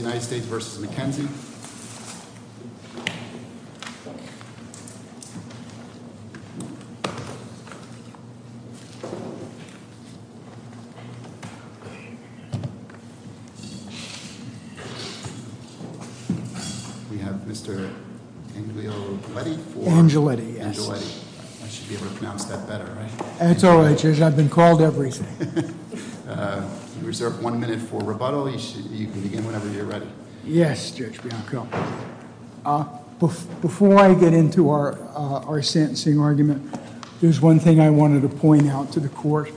We have Mr. Angioletti, I should be able to pronounce that better, right? That's all right, I've been called everything. Reserve one minute for rebuttal, you can begin whenever you're ready. Yes, Judge Bianco. Before I get into our sentencing argument, there's one thing I wanted to point out to the court.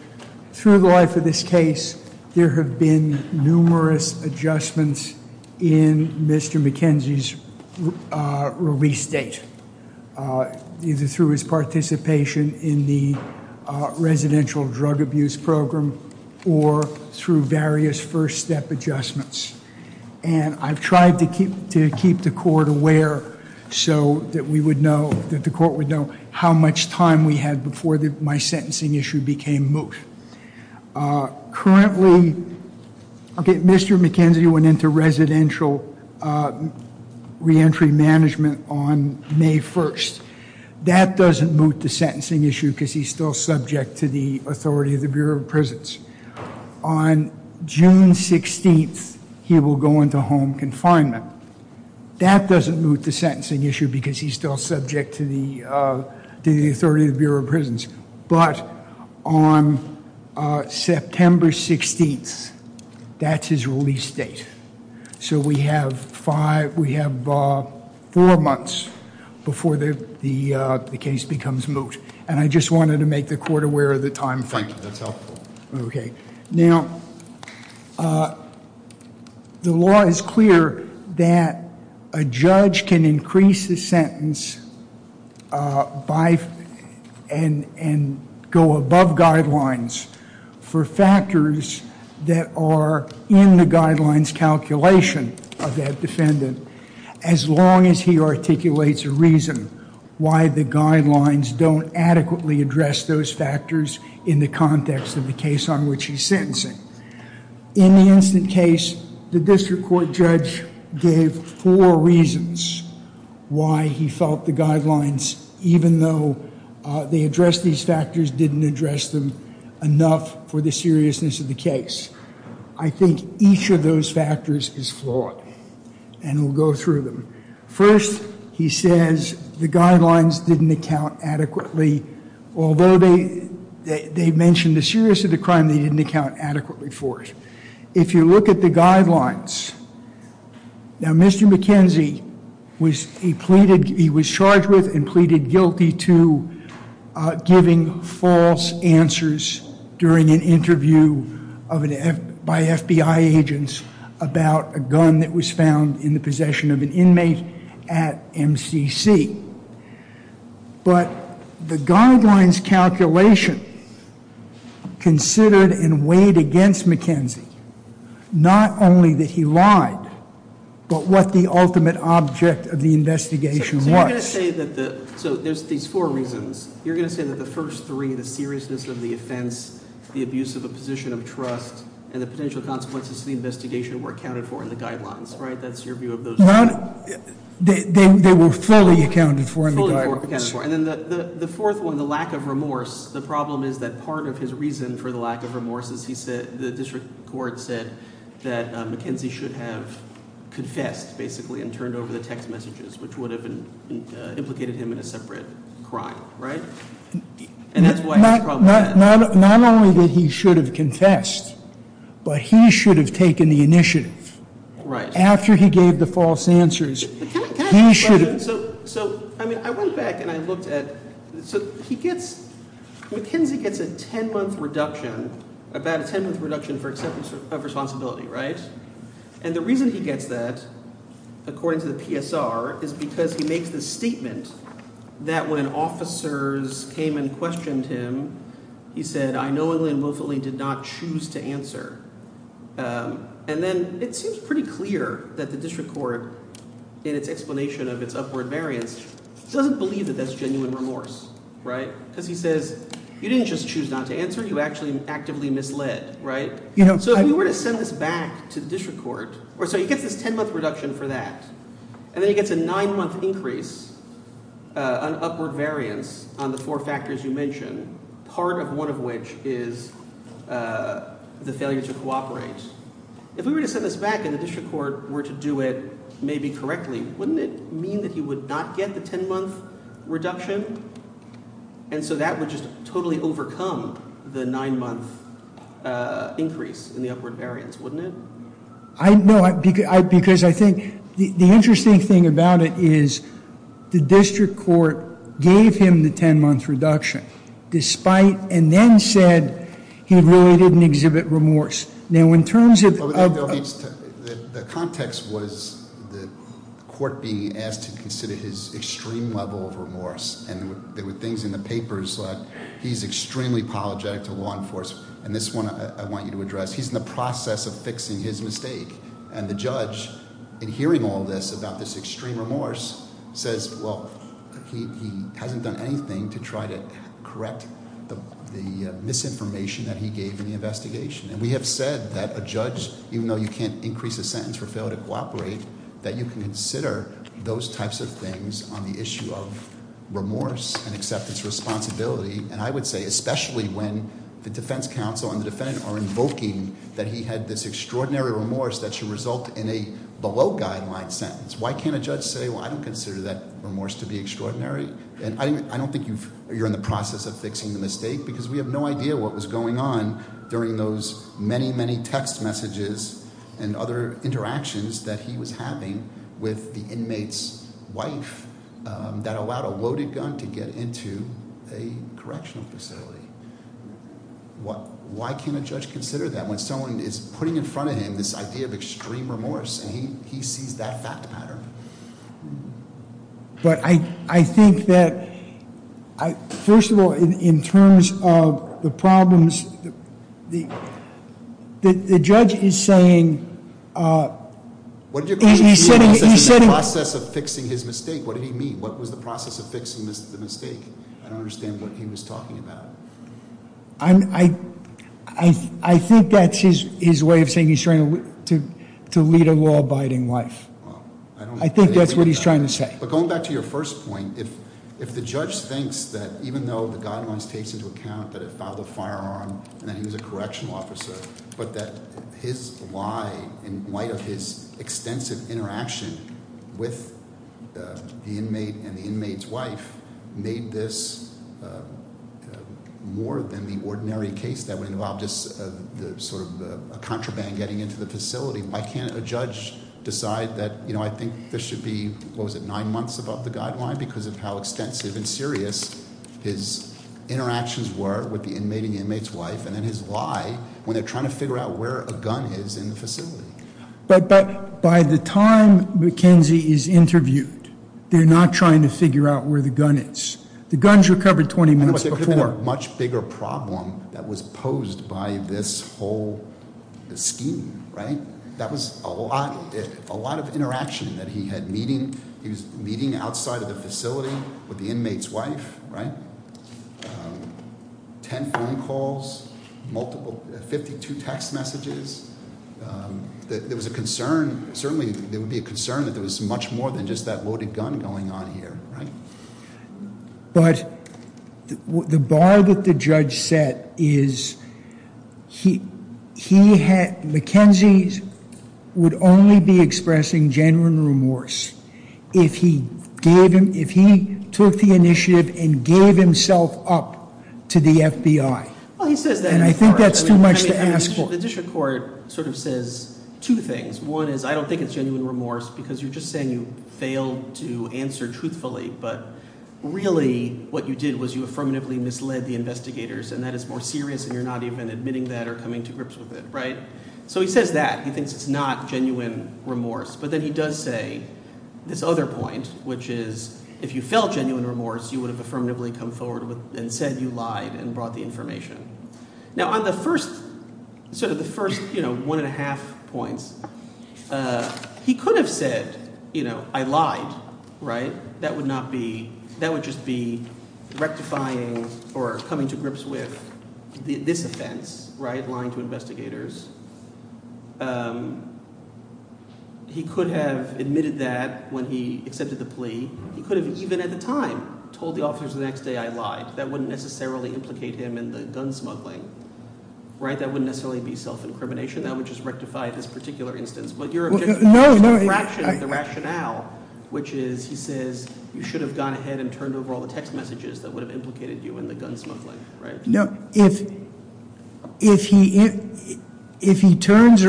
Through the life of this case, there have been numerous adjustments in Mr. McKenzie's release date. Either through his participation in the residential drug abuse program or through various first step adjustments. And I've tried to keep the court aware so that the court would know how much time we had before my sentencing issue became moot. Currently, Mr. McKenzie went into residential reentry management on May 1st. That doesn't moot the sentencing issue because he's still subject to the authority of the Bureau of Prisons. On June 16th, he will go into home confinement. That doesn't moot the sentencing issue because he's still subject to the authority of the Bureau of Prisons. But on September 16th, that's his release date. So we have four months before the case becomes moot. And I just wanted to make the court aware of the timeframe. Thank you. That's helpful. Okay. Now, the law is clear that a judge can increase his sentence and go above guidelines for factors that are in the guidelines calculation of that defendant as long as he articulates a reason why the guidelines don't adequately address those factors in the context of the case on which he's sentencing. In the instant case, the district court judge gave four reasons why he felt the guidelines, even though they addressed these factors, didn't address them enough for the seriousness of the case. I think each of those factors is flawed, and we'll go through them. First, he says the guidelines didn't account adequately, although they mentioned the seriousness of the crime, they didn't account adequately for it. If you look at the guidelines, now, Mr. McKenzie, he was charged with and pleaded guilty to giving false answers during an interview by FBI agents about a gun that was found in the possession of an inmate at MCC. But the guidelines calculation considered and weighed against McKenzie not only that he lied but what the ultimate object of the investigation was. So there's these four reasons. You're going to say that the first three, the seriousness of the offense, the abuse of a position of trust, and the potential consequences of the investigation were accounted for in the guidelines, right? That's your view of those three? They were fully accounted for in the guidelines. Fully accounted for. And then the fourth one, the lack of remorse, the problem is that part of his reason for the lack of remorse is the district court said that McKenzie should have confessed, basically, and turned over the text messages, which would have implicated him in a separate crime, right? And that's why he has a problem with that. Not only that he should have confessed, but he should have taken the initiative. Right. After he gave the false answers, he should have. So, I mean, I went back and I looked at, so he gets, McKenzie gets a ten-month reduction, about a ten-month reduction for acceptance of responsibility, right? And the reason he gets that, according to the PSR, is because he makes the statement that when officers came and questioned him, he said, I knowingly and willfully did not choose to answer. And then it seems pretty clear that the district court, in its explanation of its upward variance, doesn't believe that that's genuine remorse, right? Because he says, you didn't just choose not to answer, you actually actively misled, right? So if we were to send this back to the district court, or so he gets this ten-month reduction for that, and then he gets a nine-month increase on upward variance on the four factors you mentioned, part of one of which is the failure to cooperate. If we were to send this back and the district court were to do it maybe correctly, wouldn't it mean that he would not get the ten-month reduction? And so that would just totally overcome the nine-month increase in the upward variance, wouldn't it? No, because I think the interesting thing about it is the district court gave him the ten-month reduction, despite and then said he really didn't exhibit remorse. Now in terms of- The context was the court being asked to consider his extreme level of remorse, and there were things in the papers like he's extremely apologetic to law enforcement, and this one I want you to address. He's in the process of fixing his mistake, and the judge, in hearing all this about this extreme remorse, says, well, he hasn't done anything to try to correct the misinformation that he gave in the investigation. And we have said that a judge, even though you can't increase a sentence for failure to cooperate, that you can consider those types of things on the issue of remorse and acceptance of responsibility. And I would say, especially when the defense counsel and the defendant are invoking that he had this extraordinary remorse that should result in a below-guideline sentence. Why can't a judge say, well, I don't consider that remorse to be extraordinary? I don't think you're in the process of fixing the mistake, because we have no idea what was going on during those many, many text messages and other interactions that he was having with the inmate's wife that allowed a loaded gun to get into a correctional facility. Why can't a judge consider that when someone is putting in front of him this idea of extreme remorse, and he sees that fact pattern? But I think that, first of all, in terms of the problems, the judge is saying- What did you call extreme remorse? He said- In the process of fixing his mistake. What did he mean? What was the process of fixing the mistake? I don't understand what he was talking about. I think that's his way of saying he's trying to lead a law-abiding life. I think that's what he's trying to say. But going back to your first point, if the judge thinks that even though the guidelines takes into account that it filed a firearm, and that he was a correctional officer, but that his lie, in light of his extensive interaction with the inmate and the inmate's wife, made this more than the ordinary case that would involve just sort of a contraband getting into the facility. Why can't a judge decide that I think this should be, what was it, nine months above the guideline? Because of how extensive and serious his interactions were with the inmate and the inmate's wife. And then his lie, when they're trying to figure out where a gun is in the facility. But by the time McKenzie is interviewed, they're not trying to figure out where the gun is. The gun's recovered 20 minutes before. Much bigger problem that was posed by this whole scheme, right? That was a lot of interaction that he had meeting. He was meeting outside of the facility with the inmate's wife, right? Ten phone calls, 52 text messages. There was a concern, certainly there would be a concern that there was much more than just that loaded gun going on here, right? But the bar that the judge set is McKenzie would only be expressing genuine remorse if he took the initiative and gave himself up to the FBI. And I think that's too much to ask for. The district court sort of says two things. One is I don't think it's genuine remorse because you're just saying you failed to answer truthfully. But really what you did was you affirmatively misled the investigators and that is more serious and you're not even admitting that or coming to grips with it, right? So he says that. He thinks it's not genuine remorse. But then he does say this other point, which is if you felt genuine remorse, you would have affirmatively come forward and said you lied and brought the information. Now on the first – sort of the first one and a half points, he could have said I lied, right? That would not be – that would just be rectifying or coming to grips with this offense, right, lying to investigators. He could have admitted that when he accepted the plea. He could have even at the time told the officers the next day I lied. That wouldn't necessarily implicate him in the gun smuggling, right? That wouldn't necessarily be self-incrimination. That would just rectify this particular instance. No, no. The rationale, which is he says you should have gone ahead and turned over all the text messages that would have implicated you in the gun smuggling, right? No. If he turns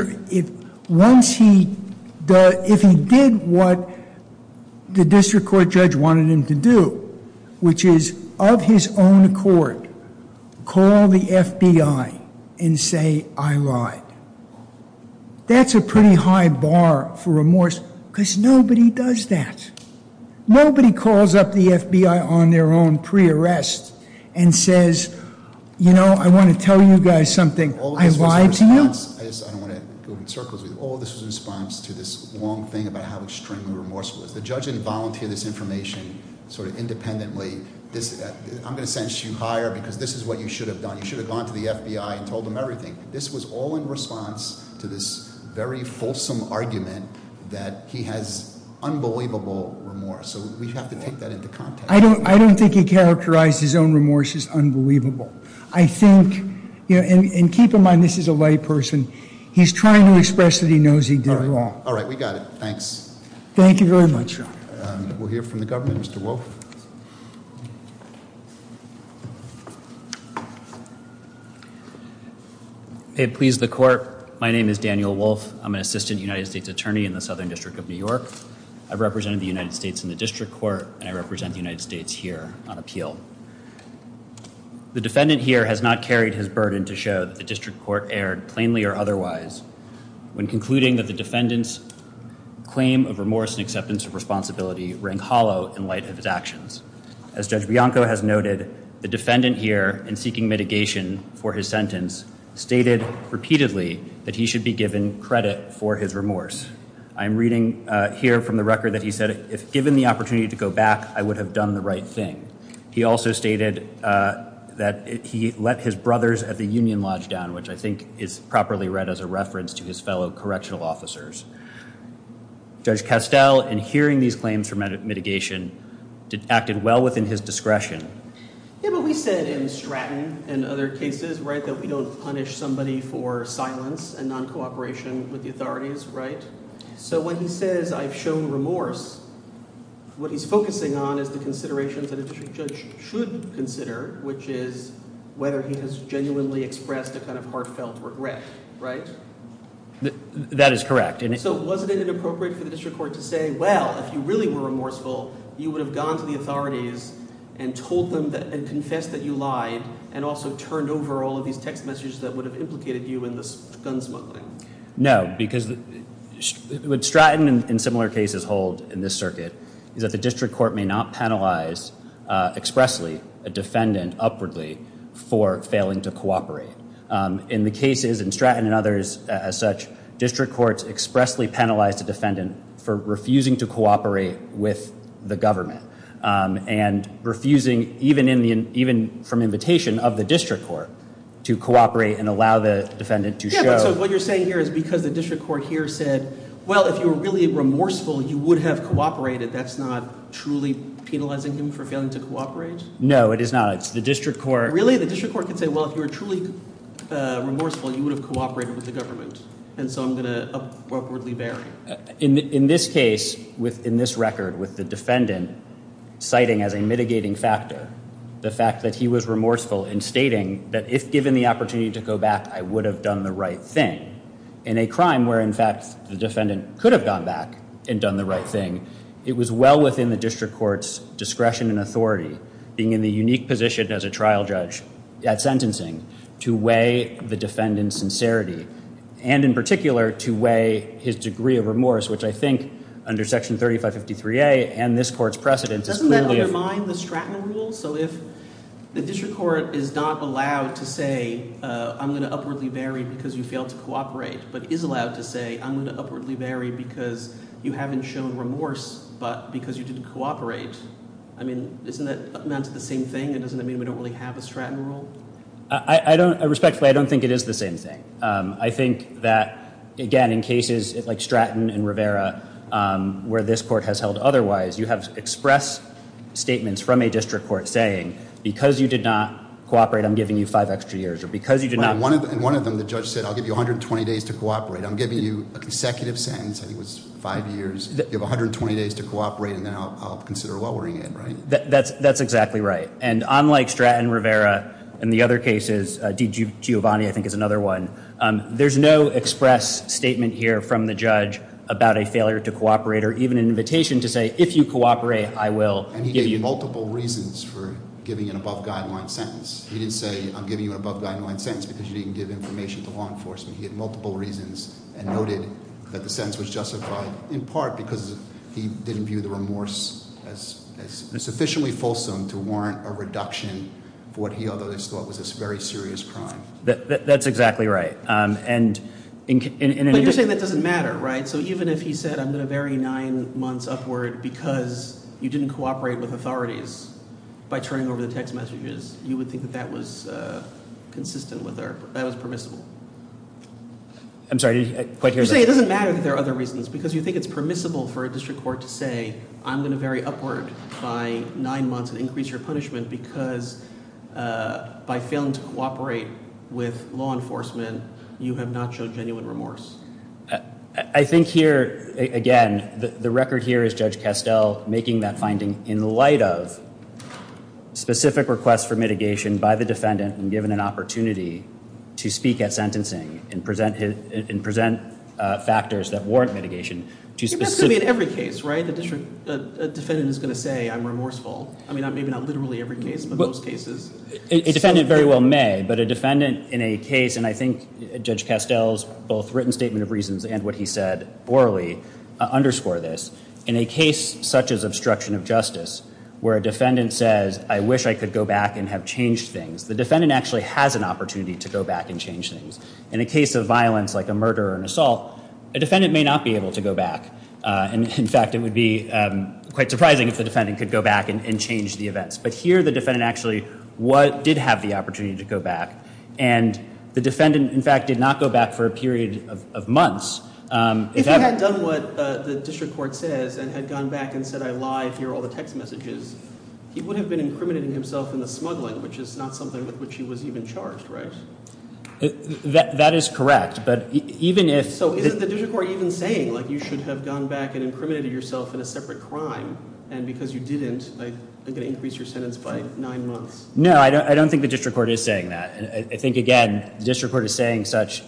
– once he – if he did what the district court judge wanted him to do, which is of his own accord call the FBI and say I lied, that's a pretty high bar for remorse because nobody does that. Nobody calls up the FBI on their own pre-arrest and says, you know, I want to tell you guys something. I lied to you. All this was in response – I don't want to go in circles with you. All this was in response to this long thing about how extremely remorseful it was. The judge didn't volunteer this information sort of independently. I'm going to sentence you higher because this is what you should have done. You should have gone to the FBI and told them everything. This was all in response to this very fulsome argument that he has unbelievable remorse. So we have to take that into context. I don't think he characterized his own remorse as unbelievable. I think – and keep in mind this is a lay person. He's trying to express that he knows he did wrong. All right. We got it. Thanks. Thank you very much. We'll hear from the government. Mr. Wolf. May it please the court, my name is Daniel Wolf. I'm an assistant United States attorney in the Southern District of New York. I represent the United States in the district court, and I represent the United States here on appeal. The defendant here has not carried his burden to show that the district court erred plainly or otherwise when concluding that the defendant's claim of remorse and acceptance of responsibility rang hollow in light of his actions. As Judge Bianco has noted, the defendant here in seeking mitigation for his sentence stated repeatedly that he should be given credit for his remorse. I'm reading here from the record that he said, if given the opportunity to go back, I would have done the right thing. He also stated that he let his brothers at the Union Lodge down, which I think is properly read as a reference to his fellow correctional officers. Judge Castell, in hearing these claims for mitigation, acted well within his discretion. Yeah, but we said in Stratton and other cases, right, that we don't punish somebody for silence and non-cooperation with the authorities, right? So when he says I've shown remorse, what he's focusing on is the considerations that a judge should consider, which is whether he has genuinely expressed a kind of heartfelt regret, right? That is correct. So wasn't it inappropriate for the district court to say, well, if you really were remorseful, you would have gone to the authorities and told them and confessed that you lied and also turned over all of these text messages that would have implicated you in this gun smuggling? No, because what Stratton and similar cases hold in this circuit is that the district court may not penalize expressly a defendant upwardly for failing to cooperate. In the cases in Stratton and others as such, district courts expressly penalize the defendant for refusing to cooperate with the government and refusing even from invitation of the district court to cooperate and allow the defendant to show. Yeah, but so what you're saying here is because the district court here said, well, if you were really remorseful, you would have cooperated, that's not truly penalizing him for failing to cooperate? No, it is not. It's the district court. Really? The district court can say, well, if you were truly remorseful, you would have cooperated with the government. And so I'm going to upwardly vary. In this case, in this record with the defendant citing as a mitigating factor the fact that he was remorseful in stating that if given the opportunity to go back, I would have done the right thing. In a crime where, in fact, the defendant could have gone back and done the right thing, it was well within the district court's discretion and authority, being in the unique position as a trial judge at sentencing, to weigh the defendant's sincerity and, in particular, to weigh his degree of remorse, which I think under Section 3553A and this court's precedent is clearly— Doesn't that undermine the Stratton rule? So if the district court is not allowed to say, I'm going to upwardly vary because you failed to cooperate, but is allowed to say, I'm going to upwardly vary because you haven't shown remorse but because you didn't cooperate, I mean, isn't that the same thing? Doesn't that mean we don't really have a Stratton rule? Respectfully, I don't think it is the same thing. I think that, again, in cases like Stratton and Rivera where this court has held otherwise, you have expressed statements from a district court saying, because you did not cooperate, I'm giving you five extra years, or because you did not— In one of them, the judge said, I'll give you 120 days to cooperate. I'm giving you a consecutive sentence. I think it was five years. You have 120 days to cooperate, and then I'll consider lowering it, right? That's exactly right. And unlike Stratton and Rivera, in the other cases—D. Giovanni, I think, is another one— there's no express statement here from the judge about a failure to cooperate or even an invitation to say, if you cooperate, I will give you— And he gave you multiple reasons for giving an above-guideline sentence. He didn't say, I'm giving you an above-guideline sentence because you didn't give information to law enforcement. He had multiple reasons and noted that the sentence was justified in part because he didn't view the remorse as sufficiently fulsome to warrant a reduction for what he otherwise thought was a very serious crime. That's exactly right. But you're saying that doesn't matter, right? So even if he said, I'm going to vary nine months upward because you didn't cooperate with authorities by turning over the text messages, you would think that that was consistent with our—that was permissible. I'm sorry, I didn't quite hear that. You're saying it doesn't matter that there are other reasons because you think it's permissible for a district court to say, I'm going to vary upward by nine months and increase your punishment because by failing to cooperate with law enforcement, you have not shown genuine remorse. I think here, again, the record here is Judge Castell making that finding in light of specific requests for mitigation by the defendant and given an opportunity to speak at sentencing and present factors that warrant mitigation. That's going to be in every case, right? The defendant is going to say, I'm remorseful. I mean, maybe not literally every case, but most cases. A defendant very well may, but a defendant in a case, and I think Judge Castell's both written statement of reasons and what he said orally underscore this. In a case such as obstruction of justice where a defendant says, I wish I could go back and have changed things, the defendant actually has an opportunity to go back and change things. In a case of violence like a murder or an assault, a defendant may not be able to go back. In fact, it would be quite surprising if the defendant could go back and change the events. But here, the defendant actually did have the opportunity to go back. And the defendant, in fact, did not go back for a period of months. If he had done what the district court says and had gone back and said, I lied, here are all the text messages, he would have been incriminating himself in the smuggling, which is not something with which he was even charged, right? That is correct. So isn't the district court even saying you should have gone back and incriminated yourself in a separate crime? And because you didn't, I'm going to increase your sentence by nine months. No, I don't think the district court is saying that. I think, again, the district court is saying such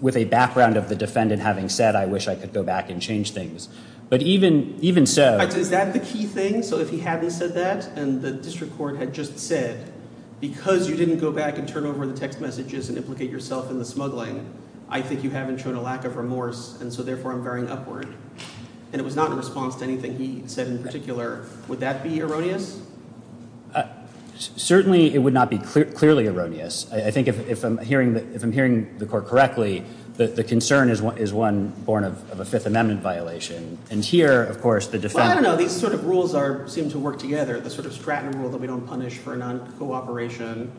with a background of the defendant having said, I wish I could go back and change things. But even so— Is that the key thing? So if he hadn't said that and the district court had just said, because you didn't go back and turn over the text messages and implicate yourself in the smuggling, I think you haven't shown a lack of remorse, and so therefore I'm varying upward. And it was not in response to anything he said in particular. Would that be erroneous? Certainly it would not be clearly erroneous. I think if I'm hearing the court correctly, the concern is one born of a Fifth Amendment violation. And here, of course, the defendant— Well, I don't know. These sort of rules seem to work together, the sort of Stratton rule that we don't punish for noncooperation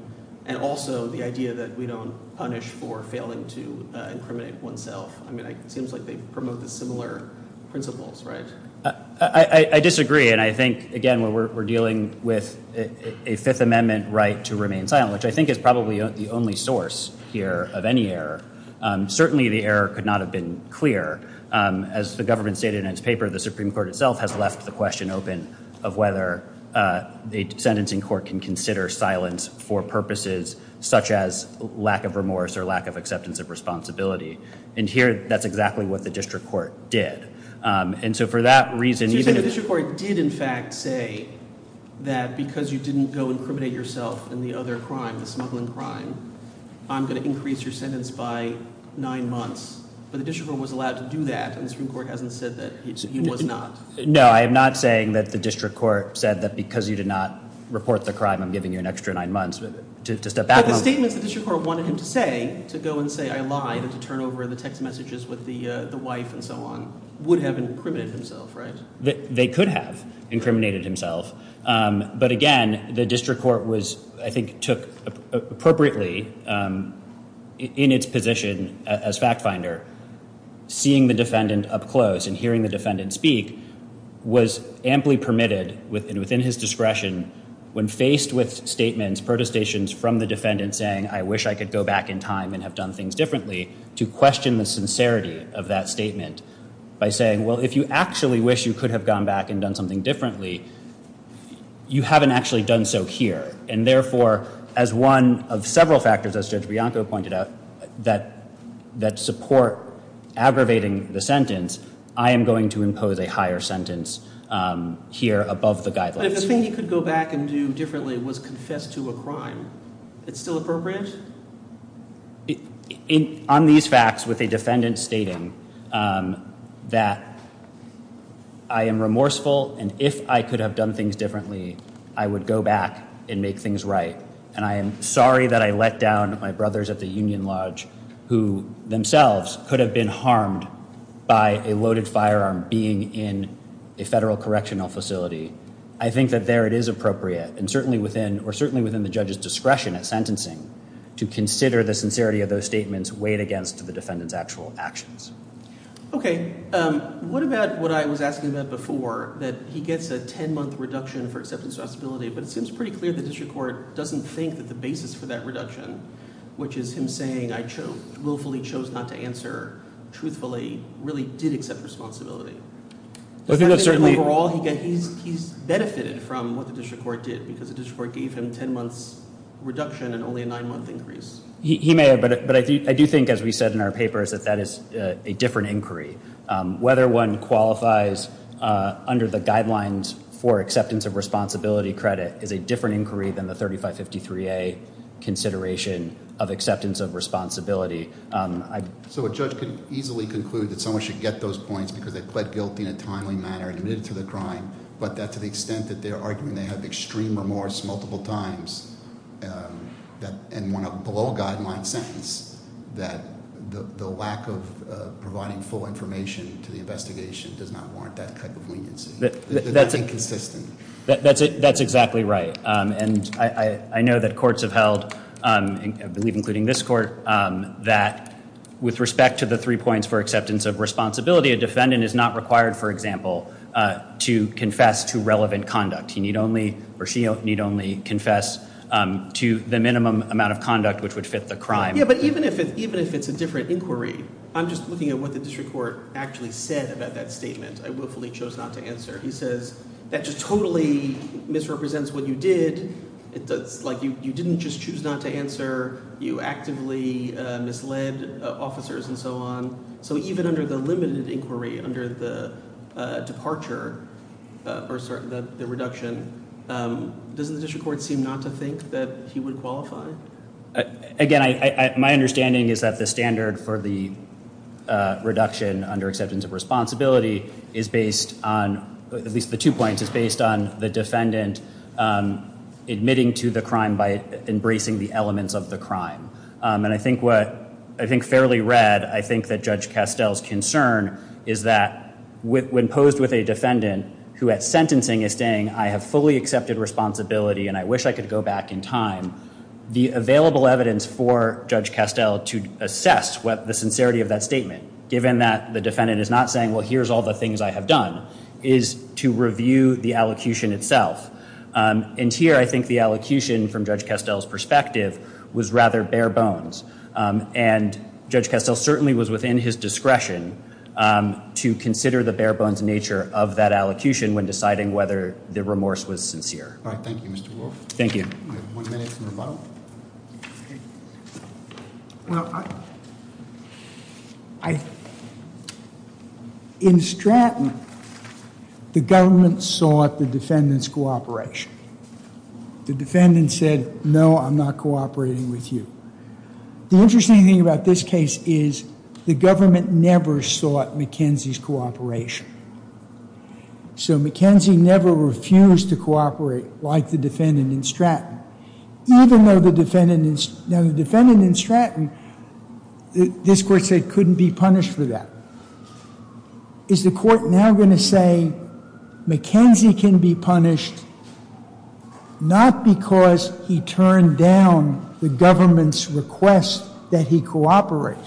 and also the idea that we don't punish for failing to incriminate oneself. I mean, it seems like they promote the similar principles, right? I disagree. And I think, again, we're dealing with a Fifth Amendment right to remain silent, which I think is probably the only source here of any error. Certainly the error could not have been clear. As the government stated in its paper, the Supreme Court itself has left the question open of whether the sentencing court can consider silence for purposes such as lack of remorse or lack of acceptance of responsibility. And here, that's exactly what the district court did. And so for that reason— So you're saying the district court did, in fact, say that because you didn't go incriminate yourself in the other crime, the smuggling crime, I'm going to increase your sentence by nine months. But the district court was allowed to do that, and the Supreme Court hasn't said that he was not. No, I am not saying that the district court said that because you did not report the crime, I'm giving you an extra nine months to step back— But the statements the district court wanted him to say, to go and say, I lied and to turn over the text messages with the wife and so on, would have incriminated himself, right? They could have incriminated himself. But again, the district court was, I think, took appropriately in its position as fact finder, seeing the defendant up close and hearing the defendant speak was amply permitted within his discretion when faced with statements, protestations from the defendant saying, I wish I could go back in time and have done things differently, to question the sincerity of that statement by saying, well, if you actually wish you could have gone back and done something differently, you haven't actually done so here. And therefore, as one of several factors, as Judge Bianco pointed out, that support aggravating the sentence, I am going to impose a higher sentence here above the guidelines. But if the thing he could go back and do differently was confess to a crime, it's still appropriate? On these facts with a defendant stating that I am remorseful and if I could have done things differently, I would go back and make things right. And I am sorry that I let down my brothers at the Union Lodge, who themselves could have been harmed by a loaded firearm being in a federal correctional facility. I think that there it is appropriate, and certainly within the judge's discretion at sentencing, to consider the sincerity of those statements weighed against the defendant's actual actions. Okay. What about what I was asking about before, that he gets a 10-month reduction for acceptance of responsibility, but it seems pretty clear the district court doesn't think that the basis for that reduction, which is him saying I willfully chose not to answer truthfully, really did accept responsibility. Does that mean that overall he's benefited from what the district court did, because the district court gave him a 10-month reduction and only a 9-month increase? He may have, but I do think, as we said in our papers, that that is a different inquiry. Whether one qualifies under the guidelines for acceptance of responsibility credit is a different inquiry than the 3553A consideration of acceptance of responsibility. So a judge could easily conclude that someone should get those points because they pled guilty in a timely manner and admitted to the crime. But that to the extent that they're arguing they have extreme remorse multiple times and want to blow a guideline sentence, that the lack of providing full information to the investigation does not warrant that type of leniency. That's inconsistent. That's exactly right. And I know that courts have held, I believe including this court, that with respect to the three points for acceptance of responsibility, a defendant is not required, for example, to confess to relevant conduct. He need only or she need only confess to the minimum amount of conduct which would fit the crime. Yeah, but even if it's a different inquiry, I'm just looking at what the district court actually said about that statement. I willfully chose not to answer. He says that just totally misrepresents what you did. It's like you didn't just choose not to answer. You actively misled officers and so on. So even under the limited inquiry under the departure or the reduction, doesn't the district court seem not to think that he would qualify? Again, my understanding is that the standard for the reduction under acceptance of responsibility is based on, at least the two points, is based on the defendant admitting to the crime by embracing the elements of the crime. And I think fairly read, I think that Judge Castel's concern is that when posed with a defendant who at sentencing is saying, I have fully accepted responsibility and I wish I could go back in time, the available evidence for Judge Castel to assess the sincerity of that statement, given that the defendant is not saying, well, here's all the things I have done, is to review the allocution itself. And here, I think the allocution from Judge Castel's perspective was rather bare bones. And Judge Castel certainly was within his discretion to consider the bare bones nature of that allocution when deciding whether the remorse was sincere. All right, thank you, Mr. Wolf. Thank you. We have one minute for rebuttal. In Stratton, the government sought the defendant's cooperation. The defendant said, no, I'm not cooperating with you. The interesting thing about this case is the government never sought McKenzie's cooperation. So McKenzie never refused to cooperate like the defendant in Stratton. Even though the defendant in Stratton, this court said, couldn't be punished for that. Is the court now going to say McKenzie can be punished not because he turned down the government's request that he cooperate,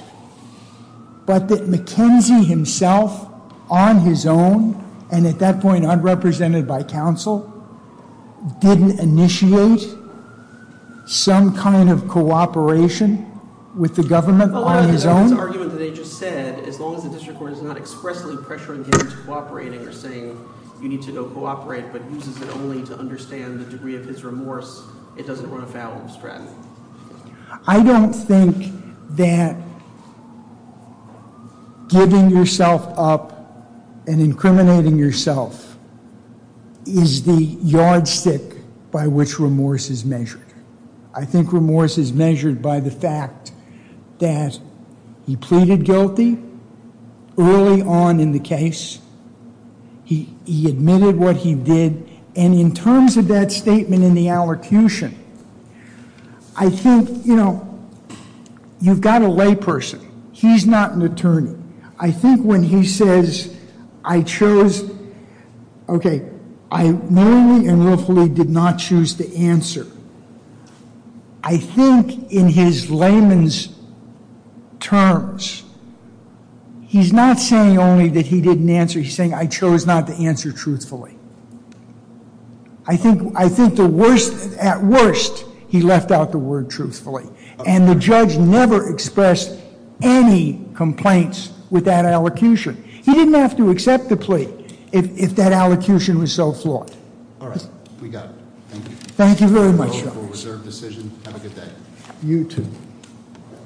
but that McKenzie himself, on his own, and at that point, unrepresented by counsel, didn't initiate some kind of cooperation with the government on his own? Well, that's the argument that they just said. As long as the district court is not expressly pressuring him into cooperating or saying, you need to go cooperate, but uses it only to understand the degree of his remorse, it doesn't run afoul of Stratton. I don't think that giving yourself up and incriminating yourself is the yardstick by which remorse is measured. I think remorse is measured by the fact that he pleaded guilty early on in the case. He admitted what he did. And in terms of that statement in the allocution, I think, you know, you've got a layperson. He's not an attorney. I think when he says, I chose, okay, I knowingly and willfully did not choose to answer, I think in his layman's terms, he's not saying only that he didn't answer. He's saying, I chose not to answer truthfully. I think the worst, at worst, he left out the word truthfully. And the judge never expressed any complaints with that allocution. He didn't have to accept the plea if that allocution was so flawed. All right. We got it. Thank you. Thank you very much. Reserved decision. Have a good day. You too.